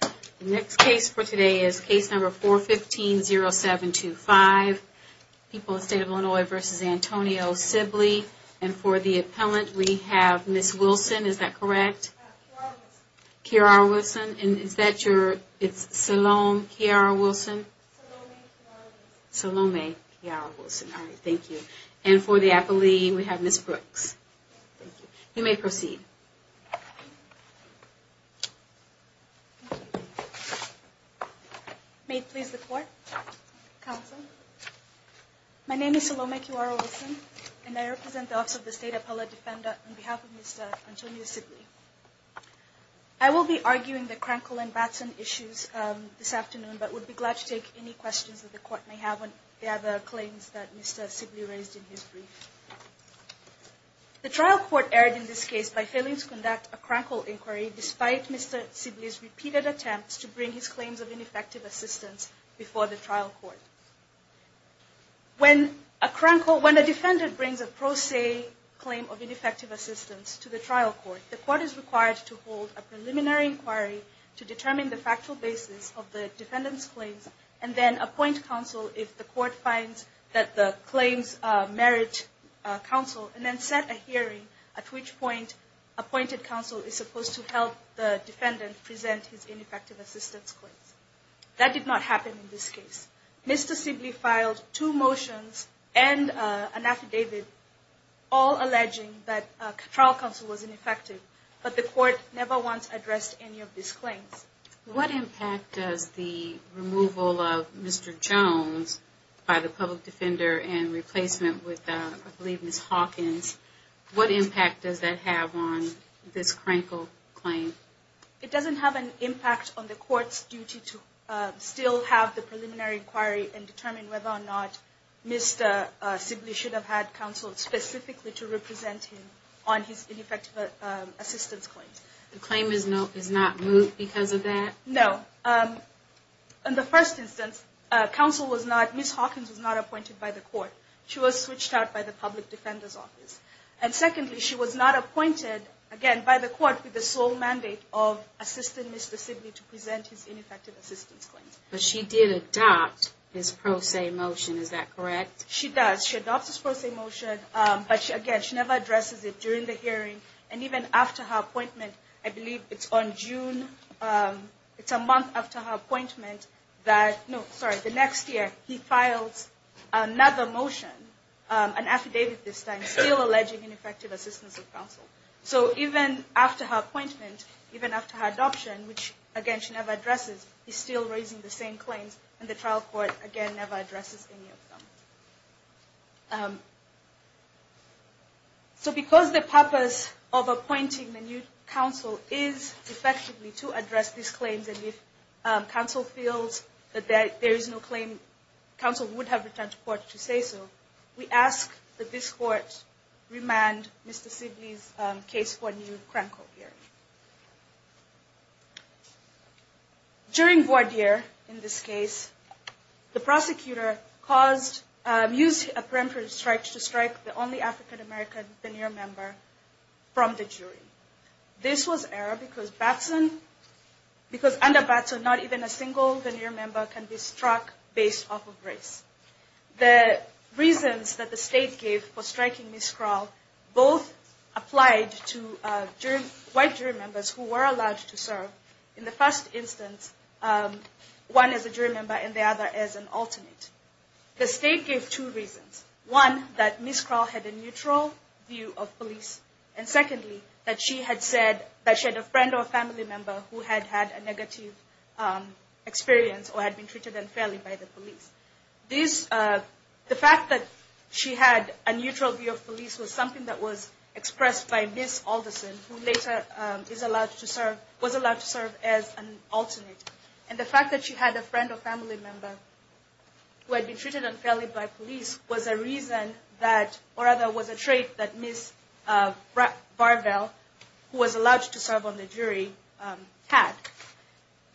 The next case for today is case number 415-0725, People of the State of Illinois v. Antonio Sibley. And for the appellant we have Ms. Wilson, is that correct? Kiara Wilson. Kiara Wilson. And is that your, it's Salome Kiara Wilson? Salome Kiara Wilson. Salome Kiara Wilson. All right, thank you. And for the appellee we have Ms. Brooks. You may proceed. May it please the court, counsel. My name is Salome Kiara Wilson and I represent the Office of the State Appellate Defender on behalf of Mr. Antonio Sibley. I will be arguing the Krankel and Batson issues this afternoon, but would be glad to take any questions that the court may have on the other claims that Mr. Sibley raised in his brief. The trial court erred in this case by failing to conduct a Krankel inquiry despite Mr. Sibley's repeated attempts to bring his claims of ineffective assistance before the trial court. When a defendant brings a pro se claim of ineffective assistance to the trial court, the court is required to hold a preliminary inquiry to determine the factual basis of the defendant's claims and then appoint counsel if the court finds that the claims merit counsel and then set a hearing at which point appointed counsel is supposed to help the defendant present his ineffective assistance claims. That did not happen in this case. Mr. Sibley filed two motions and an affidavit all alleging that trial counsel was ineffective, but the court never once addressed any of these claims. What impact does the removal of Mr. Jones by the public defender and replacement with, I believe, Ms. Hawkins, what impact does that have on this Krankel claim? It doesn't have an impact on the court's duty to still have the preliminary inquiry and determine whether or not Mr. Sibley should have had counsel specifically to represent him on his ineffective assistance claims. The claim is not moved because of that? No. In the first instance, counsel was not, Ms. Hawkins was not appointed by the court. She was switched out by the public defender's office. And secondly, she was not appointed, again, by the court with the sole mandate of assisting Mr. Sibley to present his ineffective assistance claims. But she did adopt his pro se motion, is that correct? She does. She adopts his pro se motion, but again, she never addresses it during the hearing. And even after her appointment, I believe it's on June, it's a month after her appointment that, no, sorry, the next year, he files another motion, an affidavit this time, still alleging ineffective assistance of counsel. So even after her appointment, even after her adoption, which, again, she never addresses, he's still raising the same claims, and the trial court, again, never addresses any of them. So because the purpose of appointing the new counsel is effectively to address these claims, and if counsel feels that there is no claim, counsel would have returned to court to say so, we ask that this court remand Mr. Sibley's case for a new crank court hearing. During voir dire, in this case, the prosecutor used a preemptive strike to strike the only African-American veneer member from the jury. This was error because under Batson, not even a single veneer member can be struck based off of race. The reasons that the state gave for striking Ms. Kral both applied to white jury members who were allowed to serve. In the first instance, one is a jury member and the other is an alternate. The state gave two reasons. One, that Ms. Kral had a neutral view of police. And secondly, that she had said that she had a friend or family member who had had a negative experience or had been treated unfairly by the police. The fact that she had a neutral view of police was something that was expressed by Ms. Alderson, who later was allowed to serve as an alternate. And the fact that she had a friend or family member who had been treated unfairly by police was a reason that, or rather was a trait that Ms. Varvel, who was allowed to serve on the jury, had.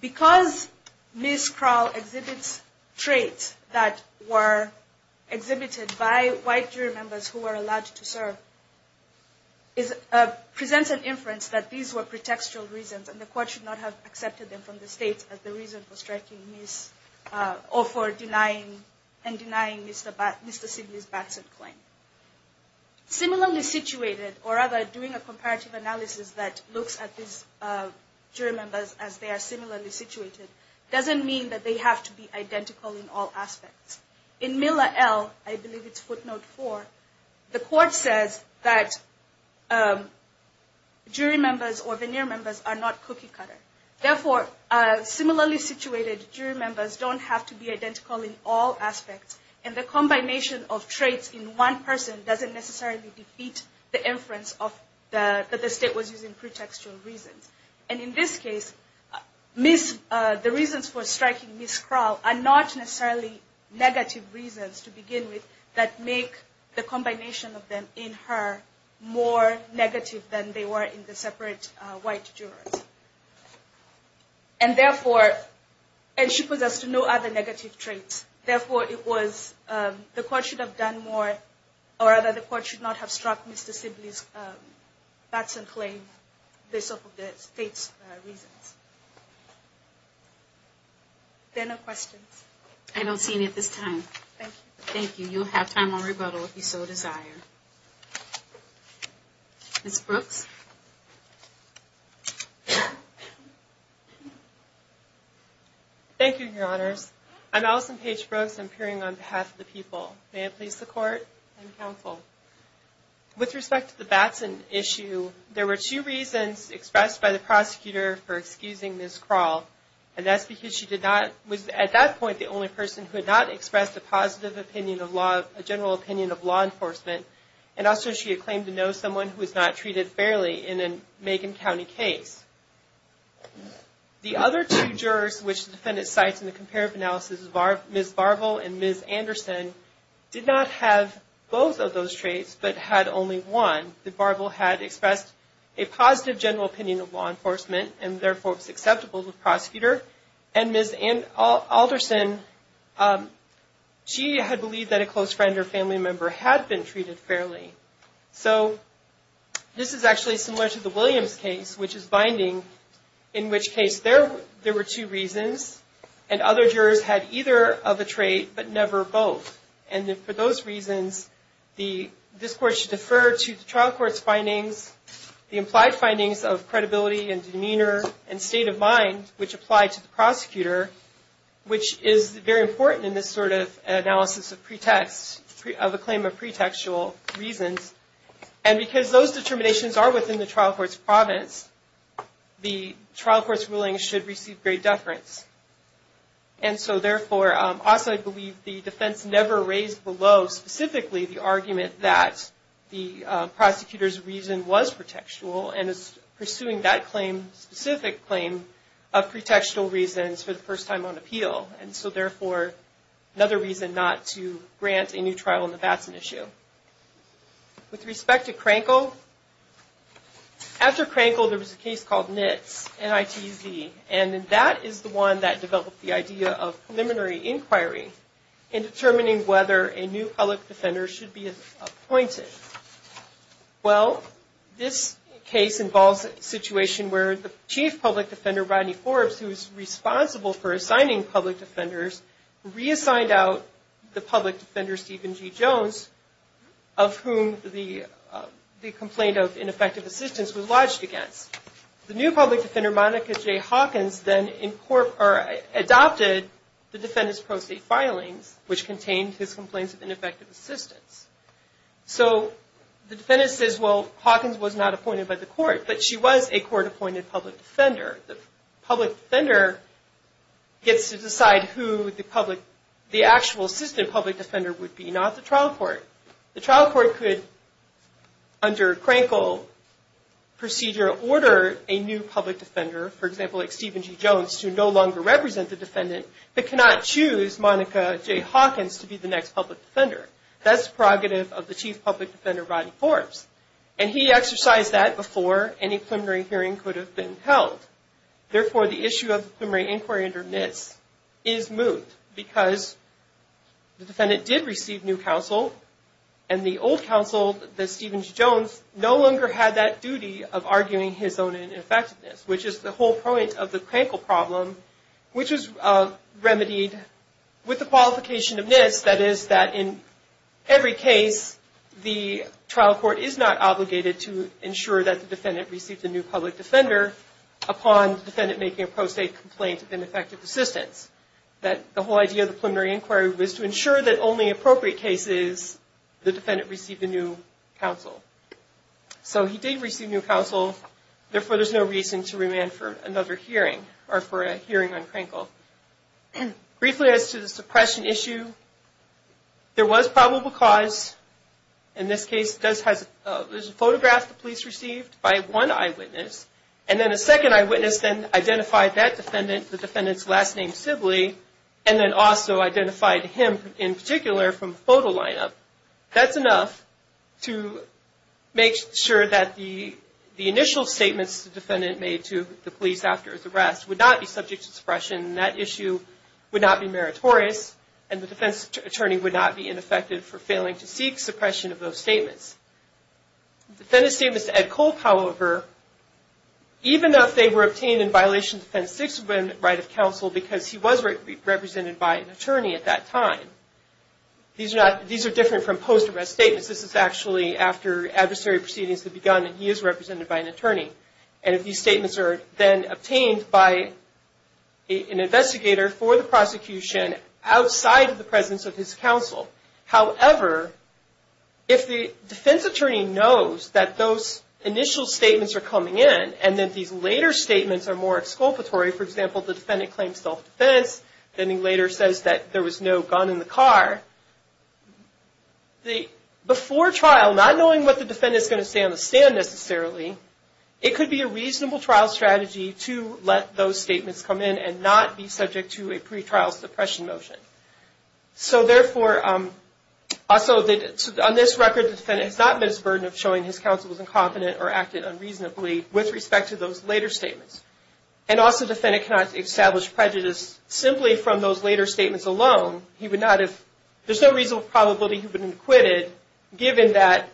Because Ms. Kral exhibits traits that were exhibited by white jury members who were allowed to serve presents an inference that these were pretextual reasons and the court should not have accepted them from the state as the reason for striking Ms. or for denying Mr. Sidney's Batson claim. Similarly situated, or rather doing a comparative analysis that looks at these jury members as they are similarly situated, doesn't mean that they have to be identical in all aspects. In Miller L, I believe it's footnote 4, the court says that jury members or veneer members are not cookie cutter. Therefore, similarly situated jury members don't have to be identical in all aspects and the combination of traits in one person doesn't necessarily defeat the inference that the state was using pretextual reasons. And in this case, the reasons for striking Ms. Kral are not necessarily negative reasons to begin with that make the combination of them in her more negative than they were in the separate white jurors. And therefore, and she possesses no other negative traits. Therefore, it was, the court should have done more or rather the court should not have struck Mr. Sidney's Batson claim based off of the state's reasons. Are there any questions? I don't see any at this time. Thank you. Thank you. You'll have time on rebuttal if you so desire. Ms. Brooks? Thank you, Your Honors. I'm Allison Paige Brooks. I'm appearing on behalf of the people. May I please the court and counsel? With respect to the Batson issue, there were two reasons expressed by the prosecutor for excusing Ms. Kral. And that's because she did not, was at that point the only person who had not expressed a positive opinion of law, a general opinion of law enforcement. And also, she had claimed to know someone who was not treated fairly in a Macon County case. The other two jurors, which the defendant cites in the comparative analysis, Ms. Barbel and Ms. Anderson, did not have both of those traits, but had only one. Ms. Anderson, Ms. Barbel had expressed a positive general opinion of law enforcement and therefore was acceptable to the prosecutor. And Ms. Alderson, she had believed that a close friend or family member had been treated fairly. So, this is actually similar to the Williams case, which is binding, in which case there were two reasons. And other jurors had either of a trait, but never both. And for those reasons, this court should defer to the trial court's findings, the implied findings of credibility and demeanor and state of mind, which apply to the prosecutor, which is very important in this sort of analysis of pretext, of a claim of pretextual reasons. And because those determinations are within the trial court's province, the trial court's ruling should receive great deference. And so, therefore, also I believe the defense never raised below specifically the argument that the prosecutor's reason was pretextual and is pursuing that claim, specific claim, of pretextual reasons for the first time on appeal. And so, therefore, another reason not to grant a new trial in the Batson issue. With respect to Crankle, after Crankle, there was a case called Nitz, N-I-T-Z. And that is the one that developed the idea of preliminary inquiry in determining whether a new public defender should be appointed. Well, this case involves a situation where the chief public defender, Rodney Forbes, who is responsible for assigning public defenders, reassigned out the public defender, Stephen G. Jones, of whom the complaint of ineffective assistance was lodged against. The new public defender, Monica J. Hawkins, then adopted the defendant's pro se filings, which contained his complaints of ineffective assistance. So the defendant says, well, Hawkins was not appointed by the court, but she was a court-appointed public defender. The public defender gets to decide who the actual assistant public defender would be, not the trial court. The trial court could, under Crankle procedure, order a new public defender, for example, like Stephen G. Jones, to no longer represent the defendant, but cannot choose Monica J. Hawkins to be the next public defender. That's the prerogative of the chief public defender, Rodney Forbes. And he exercised that before any preliminary hearing could have been held. Therefore, the issue of the preliminary inquiry under NIST is moved because the defendant did receive new counsel, and the old counsel, Stephen G. Jones, no longer had that duty of arguing his own ineffectiveness, which is the whole point of the Crankle problem, which is remedied with the qualification of NIST, that is, that in every case, the trial court is not obligated to ensure that the defendant received a new public defender upon the defendant making a pro se complaint of ineffective assistance. The whole idea of the preliminary inquiry was to ensure that only appropriate cases, the defendant received a new counsel. So he did receive new counsel, therefore there's no reason to remand for another hearing, or for a hearing on Crankle. Briefly as to the suppression issue, there was probable cause. In this case, there's a photograph the police received by one eyewitness, and then a second eyewitness then identified that defendant, the defendant's last name, Sibley, and then also identified him in particular from a photo lineup. That's enough to make sure that the initial statements the defendant made to the police after his arrest would not be subject to suppression, and that issue would not be meritorious, and the defense attorney would not be ineffective for failing to seek suppression of those statements. The defendant's statements to Ed Cole, however, even if they were obtained in violation of the Defense Sixth Amendment right of counsel, because he was represented by an attorney at that time, these are different from post-arrest statements. This is actually after adversary proceedings had begun, and he is represented by an attorney. And these statements are then obtained by an investigator for the prosecution outside of the presence of his counsel. However, if the defense attorney knows that those initial statements are coming in, and that these later statements are more exculpatory, for example, the defendant claims self-defense, then he later says that there was no gun in the car, before trial, not knowing what the defendant is going to say on the stand necessarily, it could be a reasonable trial strategy to let those statements come in and not be subject to a pretrial suppression motion. So therefore, on this record, the defendant has not met his burden of showing his counsel was incompetent or acted unreasonably with respect to those later statements. And also, the defendant cannot establish prejudice simply from those later statements alone. There is no reasonable probability that he would have been acquitted, given that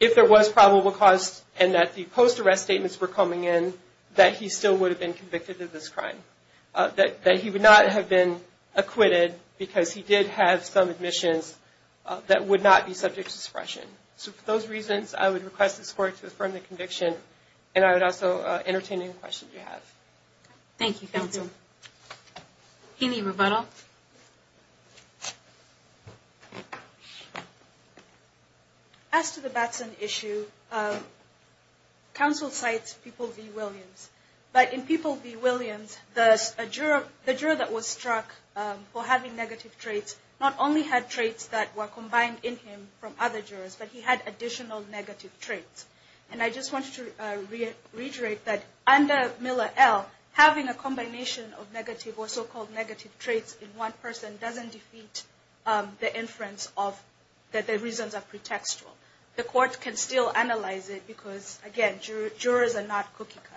if there was probable cause and that the post-arrest statements were coming in, that he still would have been convicted of this crime. That he would not have been acquitted because he did have some admissions that would not be subject to suppression. So for those reasons, I would request this court to affirm the conviction, and I would also entertain any questions you have. Thank you, counsel. Any rebuttal? As to the Batson issue, counsel cites People v. Williams. But in People v. Williams, the juror that was struck for having negative traits, not only had traits that were combined in him from other jurors, but he had additional negative traits. And I just want to reiterate that under Miller L., having a combination of negative or so-called negative traits in one person doesn't defeat the inference that the reasons are pretextual. The court can still analyze it because, again, jurors are not cookie cutters.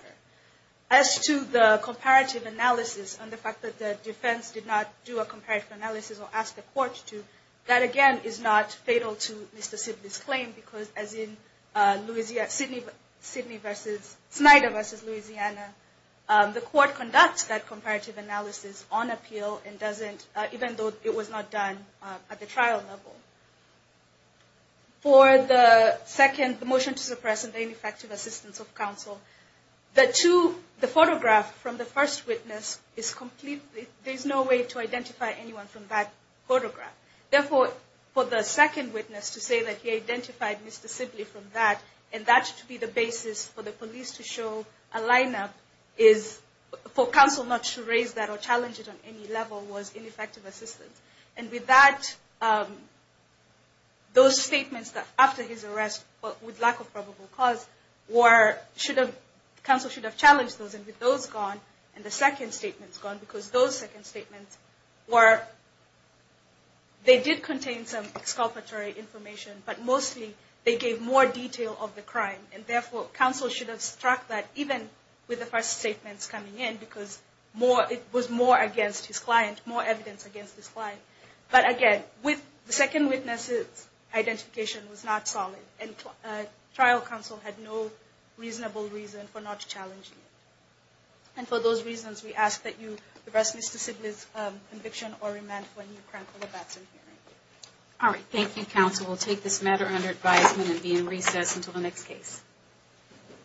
As to the comparative analysis and the fact that the defense did not do a comparative analysis or ask the court to, that, again, is not fatal to Mr. Sibley's claim because, as in Snyder v. Louisiana, the court conducts that comparative analysis on appeal even though it was not done at the trial level. For the motion to suppress and the ineffective assistance of counsel, the photograph from the first witness, there's no way to identify anyone from that photograph. Therefore, for the second witness to say that he identified Mr. Sibley from that and that to be the basis for the police to show a lineup is, for counsel not to raise that or challenge it on any level, was ineffective assistance. And with that, those statements after his arrest, with lack of probable cause, counsel should have challenged those. And with those gone and the second statements gone, because those second statements were, they did contain some exculpatory information, but mostly they gave more detail of the crime. And, therefore, counsel should have struck that even with the first statements coming in because it was more against his client, more evidence against his client. But, again, with the second witness' identification was not solid and trial counsel had no reasonable reason for not challenging it. And for those reasons, we ask that you arrest Mr. Sibley's conviction or remand for a new crime for the Batson hearing. All right. Thank you, counsel. We'll take this matter under advisement and be in recess until the next case.